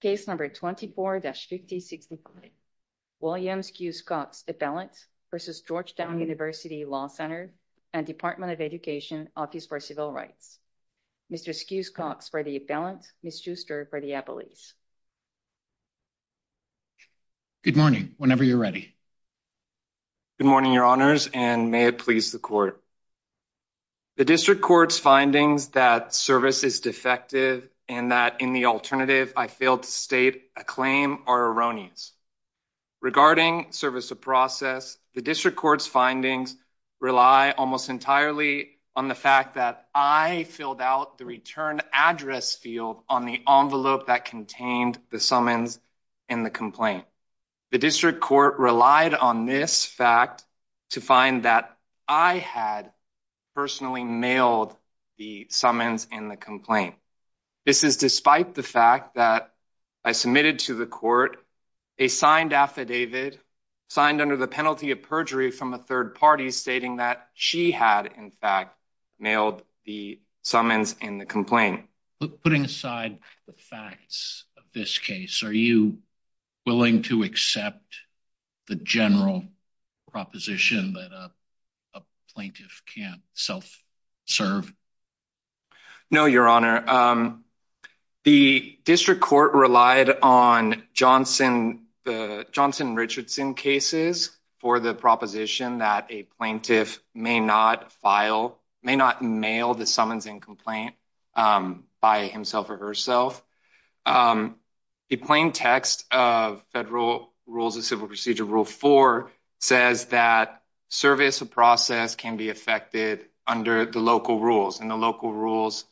Case number 24-5065, William Skewes-Cox appellant v. Georgetown University Law Center and Department of Education, Office for Civil Rights. Mr. Skewes-Cox for the appellant, Ms. Schuster for the appellees. Good morning, whenever you're ready. Good morning, your honors, and may it please the court. The district court's findings that service is defective and that in the alternative I failed to state a claim are erroneous. Regarding service of process, the district court's findings rely almost entirely on the fact that I filled out the return address field on the envelope that contained the summons in the complaint. The district court relied on this fact to find that I had personally mailed the summons in the complaint. This is despite the fact that I submitted to the court a signed affidavit signed under the penalty of perjury from a third party stating that she had in fact mailed the summons in the complaint. Putting aside the facts of this case, are you willing to accept the general proposition that a plaintiff can't self-serve? No, your honor. The district court relied on the Johnson Richardson cases for the proposition that a plaintiff may not file, may not mail the summons in complaint by himself or herself. The plain text of Federal Rules of Civil Procedure Rule 4 says that service of process can be affected under the local rules and the local rules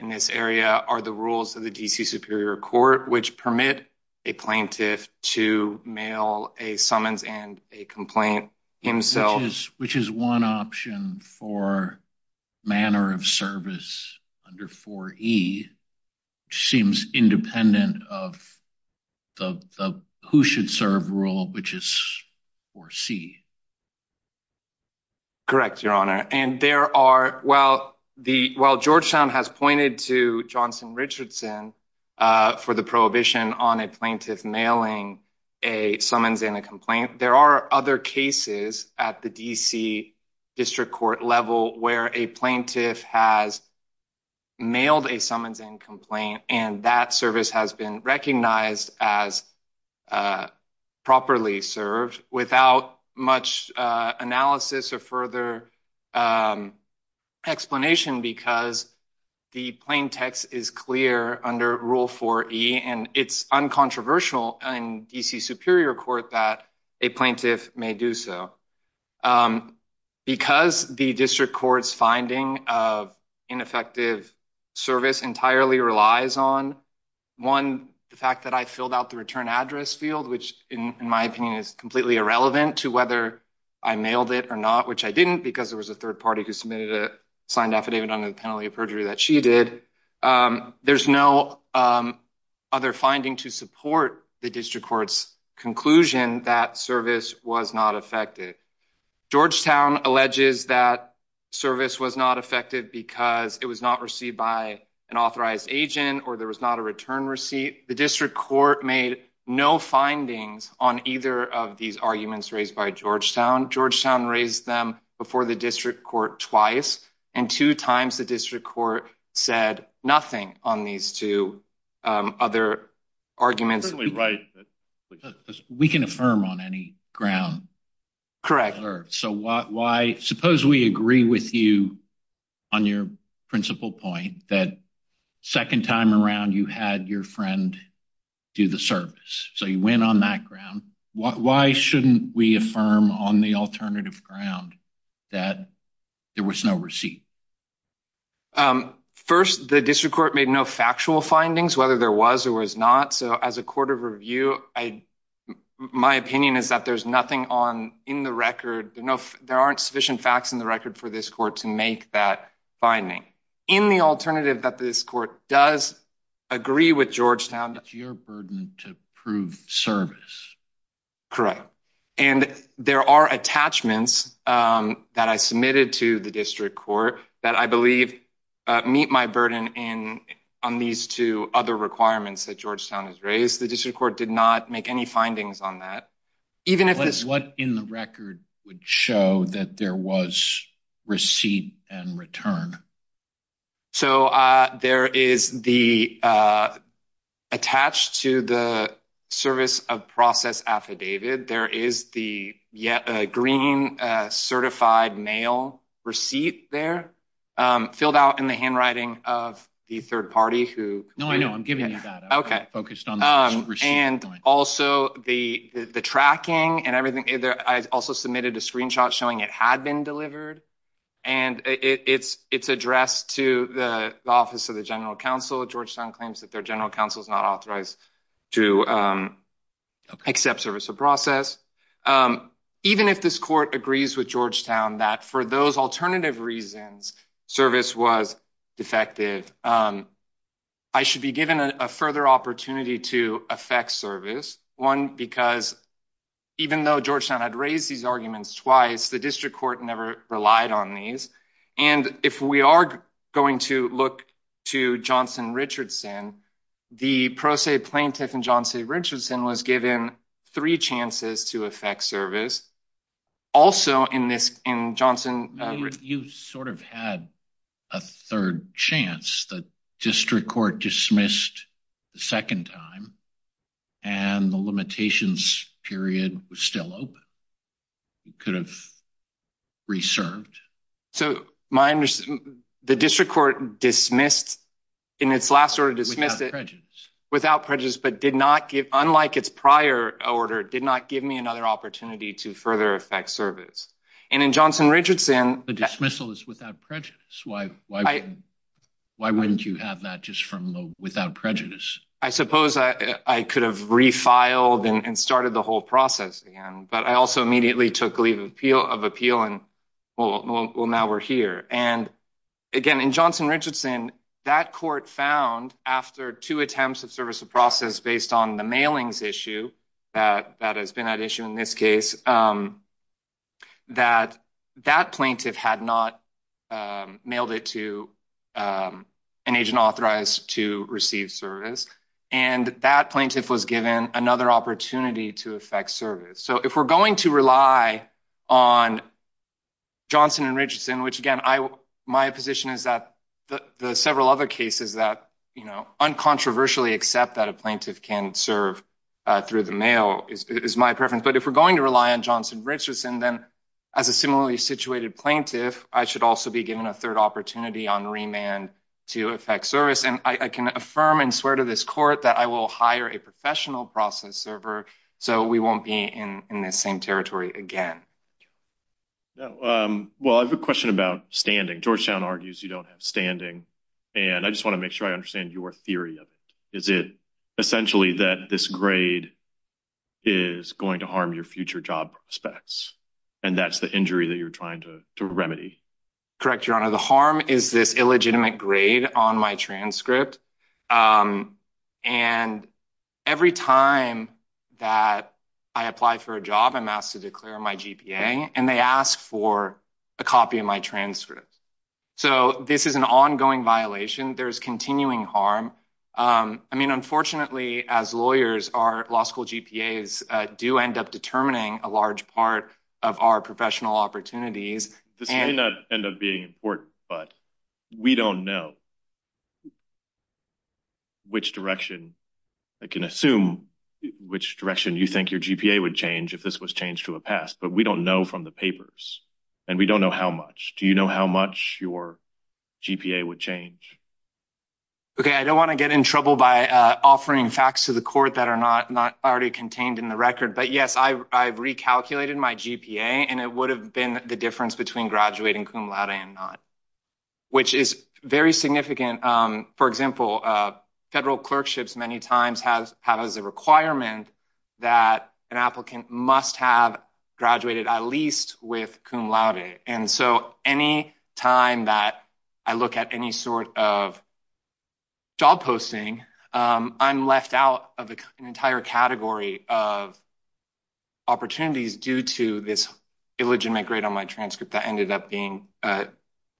in this area are the rules of the DC Superior Court which permit a plaintiff to mail a summons and a complaint himself. Which is one option for manner of service under 4e which seems independent of the who should serve rule which is 4c. Correct, your honor, and there are, while the while Georgetown has pointed to Johnson Richardson for the prohibition on a plaintiff mailing a summons in a complaint, there are other cases at the DC district court level where a plaintiff has mailed a summons and complaint and that service has been recognized as properly served without much analysis or further explanation because the plain text is clear under Rule 4e and it's uncontroversial in DC Superior Court that a plaintiff may do so. Because the district court's finding of ineffective service entirely relies on, one, the fact that I filled out the return address field which in my opinion is completely irrelevant to whether I mailed it or not, which I didn't because there was a third party who submitted a signed affidavit under the penalty of perjury that she did. There's no other finding to support the district court's conclusion that service was not effective. Georgetown alleges that service was not effective because it was not received by an authorized agent or there was not a return receipt. The district court made no findings on either of these arguments raised by Georgetown. Georgetown raised them before the district court twice and two times the district court said nothing on these two other arguments. We can affirm on any ground. Correct. So why suppose we agree with you on your principal point that second time around you had your friend do the service. So you went on that ground. Why shouldn't we affirm on the alternative ground that there was no receipt? First, the district court made no factual findings whether there was or was not. So as a court of review, my opinion is that there's nothing on in the record. There aren't sufficient facts in the record for this court to make that finding. In the alternative that this court does agree with Georgetown. It's your burden to prove service. Correct. And there are attachments that I submitted to the district court that I these two other requirements that Georgetown has raised. The district court did not make any findings on that. Even if it's what in the record would show that there was receipt and return. So there is the attached to the service of process affidavit. There is the green certified mail receipt there filled out in the handwriting of the third party. No, I know. I'm giving you that. Okay. And also the the tracking and everything. I also submitted a screenshot showing it had been delivered and it's addressed to the office of the General Counsel. Georgetown claims that their General Counsel is not authorized to accept service of process. Even if this court agrees with Georgetown that for those alternative reasons, service was defective. I should be given a further opportunity to affect service. One, because even though Georgetown had raised these arguments twice, the district court never relied on these. And if we are going to look to Johnson Richardson, the pro se plaintiff in Johnson Richardson was given three chances to affect service. Also in this in Johnson, you sort of had a third chance. The district court dismissed the second time and the limitations period was still open. You could have reserved. So my understanding, the district court dismissed in its last order, dismissed it without prejudice, but did not give, unlike its prior order, did not give me another opportunity to further affect service. And in Johnson Richardson, the dismissal is without prejudice. Why why why wouldn't you have that just from the without prejudice? I suppose I could have refiled and started the whole process again, but I also immediately took leave of appeal and well now we're here. And again in Johnson Richardson, that court found after two attempts of service of process based on the mailings issue, that has been an issue in this case, that that plaintiff had not mailed it to an agent authorized to receive service. And that plaintiff was given another opportunity to affect service. So if we're going to rely on Johnson and Richardson, which again, my position is that the several other cases that, you know, uncontroversially accept that a plaintiff can serve through the mail is my preference. But if we're going to rely on Johnson Richardson, then as a similarly situated plaintiff, I should also be given a third opportunity on remand to affect service. And I can affirm and swear to this court that I will hire a professional process server so we won't be in in this same territory again. Well I have a question about standing. Georgetown argues you don't have standing and I just want to make sure I understand your theory of it. Is it essentially that this grade is going to harm your future job prospects and that's the injury that you're trying to remedy? Correct, your honor. The harm is this illegitimate grade on my transcript. And every time that I apply for a job, I'm asked to declare my GPA and they ask for a copy of my transcript. So this is an ongoing violation. There's continuing harm. I mean, unfortunately, as lawyers, our law school GPAs do end up determining a large part of our professional opportunities. This may not end up being important, but we don't know which direction, I can assume, which direction you think your GPA would change if this was changed to a pass. But we don't know from the papers and we don't know how much. Do you know how much your GPA would change? Okay, I don't want to get in trouble by offering facts to the court that are not already contained in the record. But yes, I've recalculated my GPA and it would have been the difference between graduating cum laude and not, which is very significant. For example, federal clerkships many times have as a requirement that an applicant must have graduated at least with cum laude. And so any time that I look at any sort of job posting, I'm left out of the entire category of opportunities due to this illegitimate grade on my transcript that ended up being an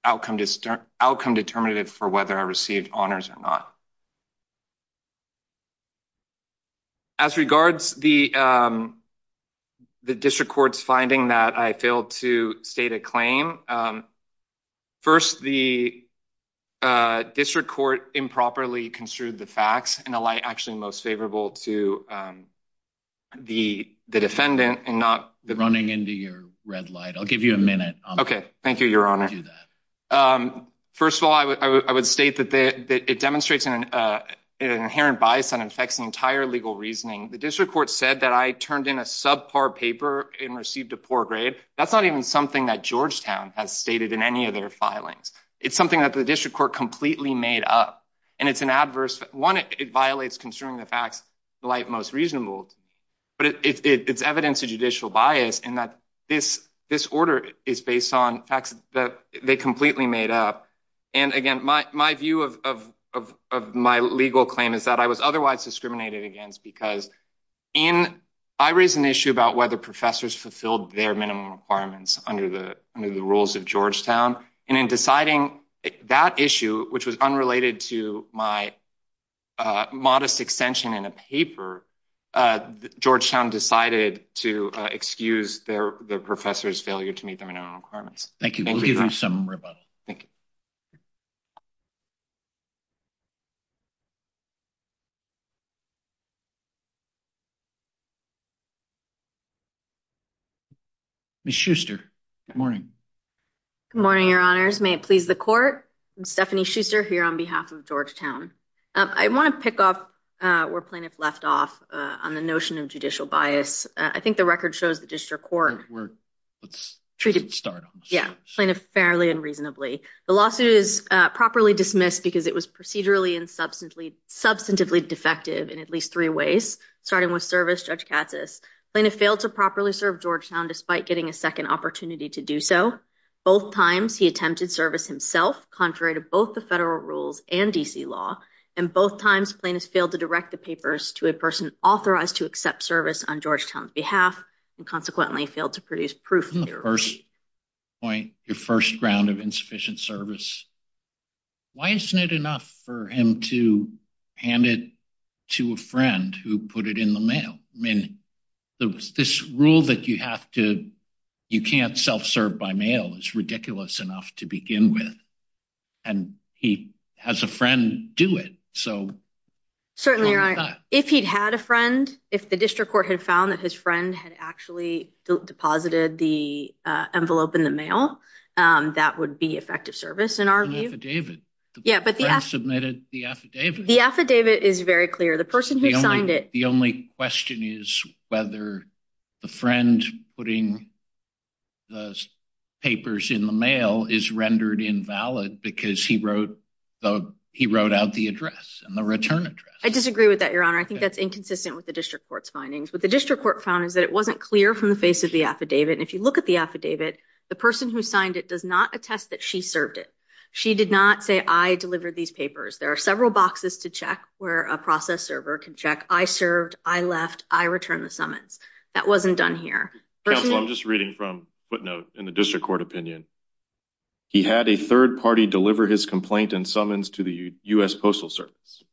outcome determinative for whether I received honors or not. As regards the district court's finding that I failed to state a claim, first the district court improperly construed the facts in a light actually most favorable to the defendant and not... Running into your red light. I'll give you a minute. Okay, thank you, Your Honor. First of all, I would state that it demonstrates an inherent bias that affects the entire legal reasoning. The district court said that I turned in a subpar paper and received a poor grade. That's not even something that Georgetown has stated in any of their filings. It's something that the district court completely made up, and it's an adverse... One, it violates construing the facts the light most reasonable, but it's evidence of judicial bias in that this order is based on facts that they completely made up. And again, my view of my legal claim is that I was otherwise discriminated against because in... I raised an issue about whether professors fulfilled their minimum requirements under the rules of Georgetown. And in deciding that issue, which was unrelated to my modest extension in a paper, Georgetown decided to excuse their professor's failure to meet their minimum requirements. Thank you. We'll give you a minute. Good morning. Good morning, Your Honors. May it please the court. I'm Stephanie Schuster here on behalf of Georgetown. I want to pick off where plaintiff left off on the notion of judicial bias. I think the record shows the district court... Let's start on this. Yeah, plaintiff fairly and reasonably. The lawsuit is properly dismissed because it was procedurally and substantively defective in at least three ways, starting with service, Judge Katsas. Plaintiff failed to properly serve Georgetown despite getting a second opportunity to do so. Both times, he attempted service himself, contrary to both the federal rules and D.C. law. And both times, plaintiffs failed to direct the papers to a person authorized to accept service on Georgetown's behalf, and consequently failed to produce proof of their... First point, your first round of insufficient service. Why isn't it enough for him to hand it to a friend who put it in the mail? This rule that you have to... You can't self-serve by mail is ridiculous enough to begin with. And he has a friend do it, so... Certainly, Your Honor. If he'd had a friend, if the district court had found that his friend had actually deposited the envelope in the mail, that would be effective service in our view. An affidavit. Yeah, but the friend submitted the affidavit. The affidavit is very clear. The person who signed it. The only question is whether the friend putting the papers in the mail is rendered invalid because he wrote out the address and the return address. I disagree with that, Your Honor. I think that's inconsistent with the district court's findings. What the district court found is that it wasn't clear from the face of the affidavit. And if you look at the affidavit, the person who signed it does not attest that she served it. She did not say, I delivered these papers. There are several boxes to check where a process server can check. I served, I left, I returned the summons. That wasn't done here. Counsel, I'm just reading from footnote in the district court opinion. He had a third party deliver his complaint and summons to the US Postal Service.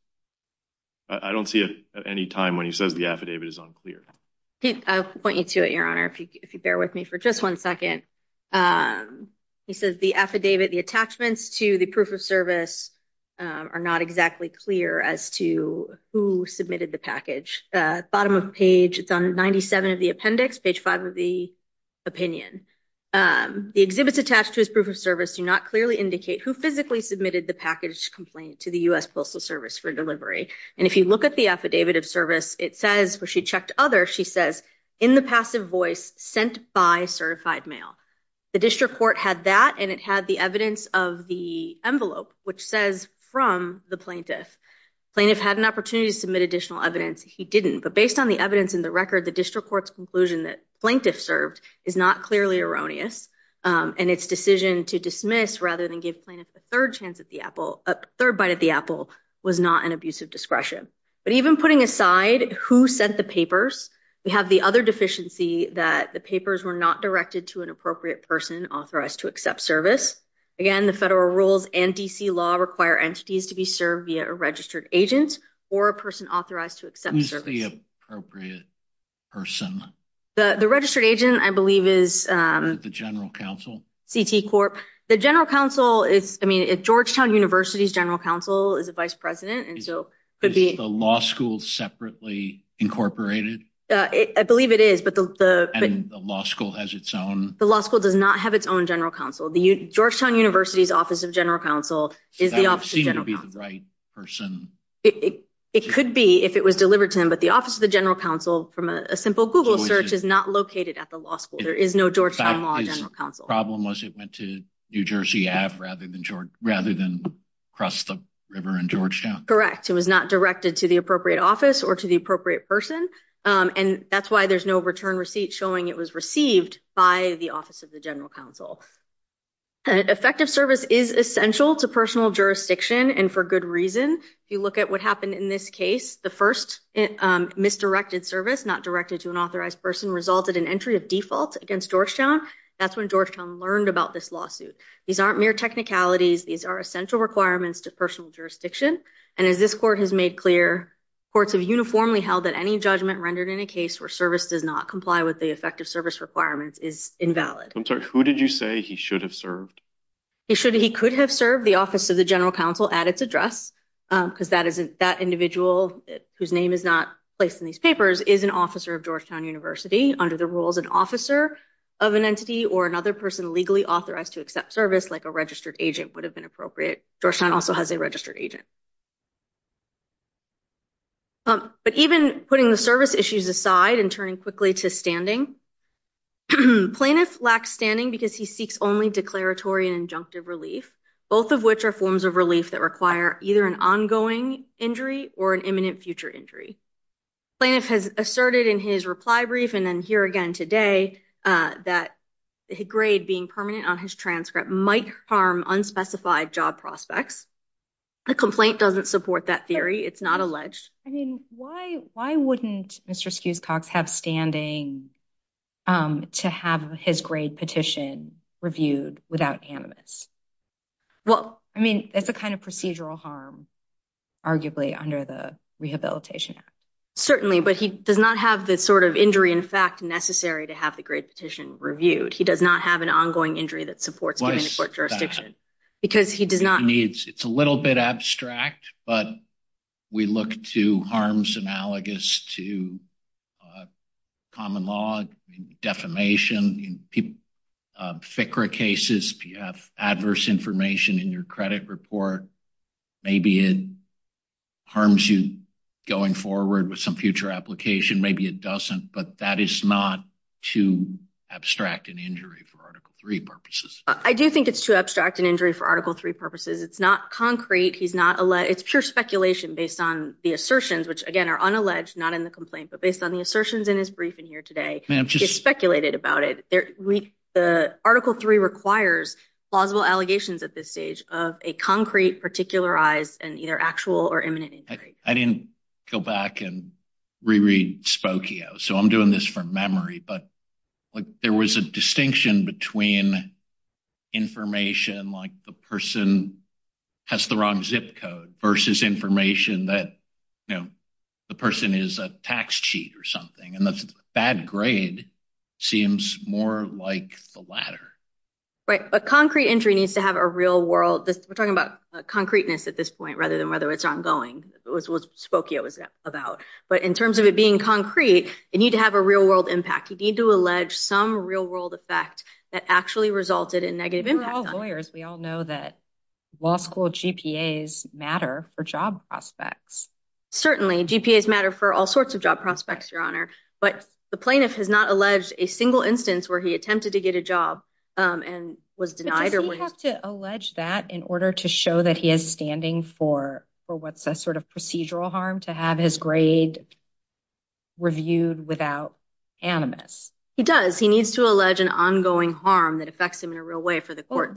I don't see it at any time when he says the affidavit is unclear. I'll point you to it, Your Honor, if you bear with me for just one second. He says the affidavit, the attachments to the proof of service are not exactly clear as to who submitted the package. Bottom of page, it's on 97 of the appendix, page 5 of the opinion. The exhibits attached to his proof of service do not clearly indicate who physically submitted the package complaint to the US Postal Service for delivery. And if you look at the affidavit of service, it says where she checked other, she says, in the passive voice sent by certified mail. The district court had that and it had the evidence of the envelope, which says from the plaintiff. Plaintiff had an opportunity to submit additional evidence. He didn't. But based on the evidence in the record, the district court's conclusion that plaintiff served is not clearly erroneous. And its decision to dismiss rather than give plaintiff a third chance at the apple, a third bite at the apple, was not an abusive discretion. But even putting aside who sent the papers, we have the other deficiency that the papers were not directed to an appropriate person authorized to accept service. Again, the federal rules and DC law require entities to be served via a registered agent or a person authorized to accept the appropriate person. The registered agent, I believe, is the general counsel, CT Corp. The general counsel is, I mean, Georgetown University's general counsel is a vice president. And so could be a law school separately incorporated. I believe it is. But the law school has its own. The law school does not have its own general counsel. The Georgetown University's office of general counsel is the office of general counsel. That would seem to be the right person. It could be if it was delivered to him. But the office of the general counsel from a simple Google search is not located at the law school. There is no Georgetown law general counsel. The problem was it went to New Jersey Ave rather than across the river in Georgetown. Correct. It was not directed to the appropriate office or to the appropriate person. And that's why there's no return receipt showing it was received by the office of the general counsel. Effective service is essential to personal jurisdiction. And for good reason, if you look at what happened in this case, the first misdirected service not directed to an authorized person resulted in entry of default against Georgetown. That's when Georgetown learned about this lawsuit. These aren't mere technicalities. These are essential requirements to personal jurisdiction. And as this court has made clear, courts have uniformly held that any judgment rendered in a case where service does not comply with the effective service requirements is invalid. I'm sorry. Who did you say he should have served? He should. He could have served the office of the general counsel at its address because that is that individual whose name is not placed in these papers is an officer of Georgetown University under the rules, an officer of an entity or another person legally authorized to accept service like a registered agent would have been appropriate. Georgetown also has a registered agent. But even putting the service issues aside and turning quickly to standing plaintiff lacks standing because he seeks only declaratory and injunctive relief, both of which are forms of relief that require either an ongoing injury or an imminent future injury. Plaintiff has asserted in his reply brief and then here again today that the grade being permanent on his transcript might harm unspecified job prospects. The complaint doesn't support that theory. It's not alleged. I mean, why? Why wouldn't Mr Skews Cox have standing, um, to have his grade petition reviewed without animus? Well, I mean, it's a kind of procedural harm, arguably under the Rehabilitation Act. Certainly. But he does not have the sort of injury, in fact, necessary to have the great petition reviewed. He does not have an ongoing injury that supports giving court jurisdiction because he does not needs. It's a little bit abstract, but we look to harms analogous to common law defamation. People, uh, Fikra cases. If you have adverse information in your credit report, maybe it harms you going forward with some future application. Maybe it doesn't. But that is not to abstract an injury for Article three purposes. I do think it's too abstract an injury for Article three purposes. It's not concrete. He's not. It's pure speculation based on the assertions, which again are unalleged, not in the complaint, but based on the assertions in his briefing here today, just speculated about it. The article three requires plausible allegations at this stage of a concrete, particularized and either actual or imminent. I didn't go back and reread Spokio, so I'm doing this from memory. But like there was a distinction between information like the person has the wrong zip code versus information that, you know, the person is a tax cheat or something. And that's bad. Grade seems more like the latter, right? A concrete injury needs to have a real world. We're talking about concreteness at this point rather than whether it's ongoing. It was Spokio was about. But in terms of it being concrete, you need to have a real world impact. You need to allege some real world effect that actually resulted in negative impact. Lawyers. We all know that law school GPAs matter for job prospects. Certainly GPAs matter for all sorts of job prospects, Your Honor. But the plaintiff has not alleged a single instance where he attempted to get a job on was denied. You have to allege that in order to show that he is standing for what's a sort of procedural harm to have his grade reviewed without animus. He does. He needs to allege an ongoing harm that affects him in a real way for the court.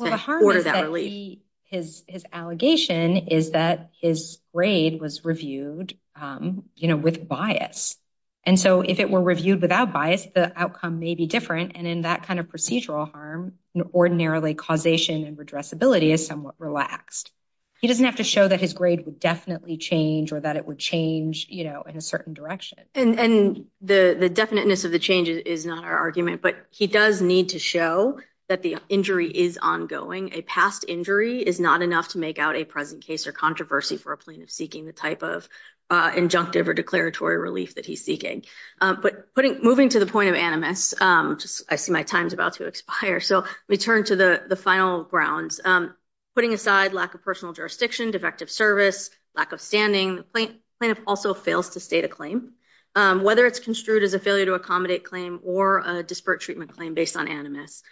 His allegation is that his grade was reviewed, you know, with bias. And so if it were reviewed without bias, the outcome may be different. And in that kind of procedural harm, ordinarily causation and redress ability is somewhat relaxed. He doesn't have to show that his grade would definitely change or that it would change, you And the definiteness of the change is not our argument, but he does need to show that the injury is ongoing. A past injury is not enough to make out a present case or controversy for a plaintiff seeking the type of injunctive or declaratory relief that he's seeking. But moving to the point of animus, I see my time's about to expire. So we turn to the final grounds. Putting aside lack of personal jurisdiction, defective service, lack of standing, the plaintiff also fails to state a claim, whether it's construed as a failure to accommodate claim or a disparate treatment claim based on animus.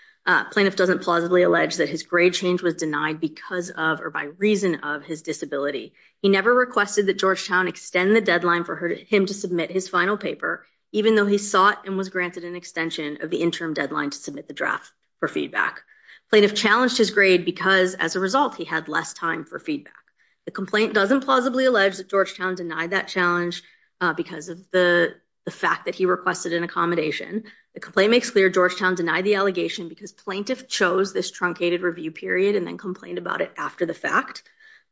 Plaintiff doesn't plausibly allege that his grade change was denied because of or by reason of his disability. He never requested that Georgetown extend the deadline for him to submit his final paper, even though he sought and was granted an extension of the interim deadline to submit the draft for feedback. Plaintiff challenged his grade because, as a result, he had less time for feedback. The complaint doesn't plausibly allege that Georgetown denied that challenge because of the fact that he requested an accommodation. The complaint makes clear Georgetown denied the allegation because plaintiff chose this truncated review period and then complained about it after the fact.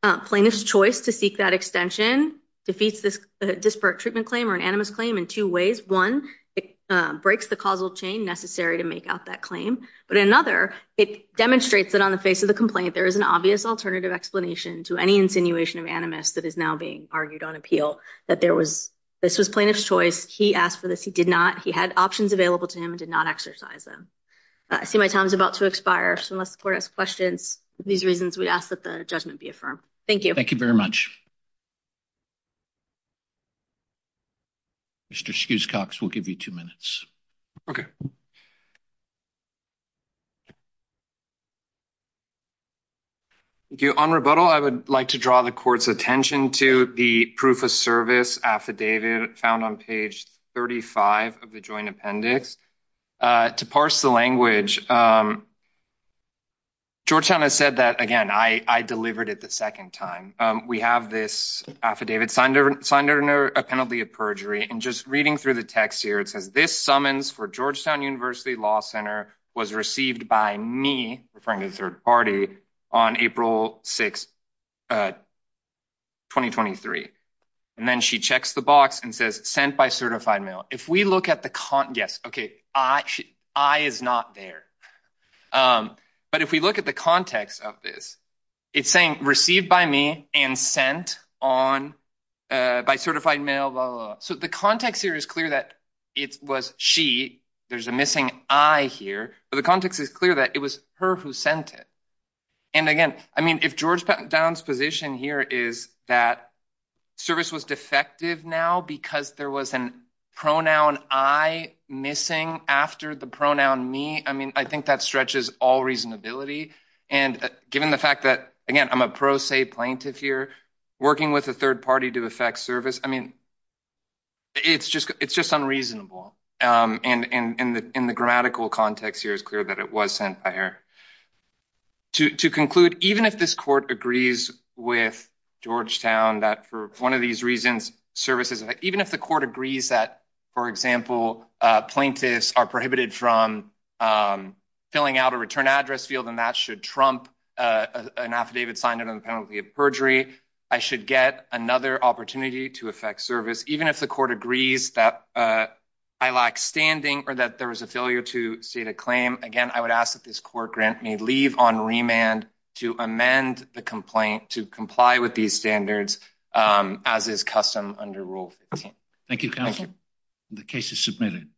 Plaintiff's choice to seek that extension defeats this disparate treatment claim or an animus claim in two ways. One, it breaks the causal chain necessary to make out that claim. But another, it demonstrates that on the face of the complaint, there is an obvious alternative explanation to any insinuation of animus that is now being argued on appeal. That there was, this was plaintiff's choice. He asked for this. He did not. He had options available to him and did not exercise them. I see my time is about to expire, so unless the court asks questions, these reasons we'd ask that the judgment be affirmed. Thank you. Thank you very much. Mr. Schuscox, we'll give you two minutes. Okay. Thank you. On rebuttal, I would like to draw the court's attention to the proof of service affidavit found on page 35 of the joint appendix. To parse the language, Georgetown has said that, again, I delivered it the second time. We have this affidavit signed under a penalty of perjury. And just reading through the text here, it says, this summons for Georgetown University Law Center was received by me, referring to the third party, on April 6, 2023. And then she checks the box and says, sent by certified mail. If we look at the con, yes, okay, I is not there. But if we look at the context of this, it's saying, received by me and sent on, by certified mail, blah, blah, blah. So the context here is clear that it was she, there's a missing I here, but the context is clear that it was her who sent it. And again, I mean, if Georgetown's position here is that service was defective now because there was an pronoun I missing after the pronoun me, I mean, I think that stretches all reasonability. And given the fact that, again, I'm a pro se plaintiff here, working with a third party to affect service, I mean, it's just, it's just unreasonable. And in the grammatical context here is clear that it was sent by her. To conclude, even if this court agrees with Georgetown, that for one of these reasons, services, even if the court agrees that, for example, plaintiffs are prohibited from filling out a return address field, and that should trump an affidavit signed under the penalty of perjury, I should get another opportunity to affect service, even if the court agrees that I lack standing or that there was a failure to state a claim. Again, I would ask that this court grant may leave on remand to amend the complaint to comply with these standards, um, as is custom under rule. Thank you. Thank you. The case is submitted.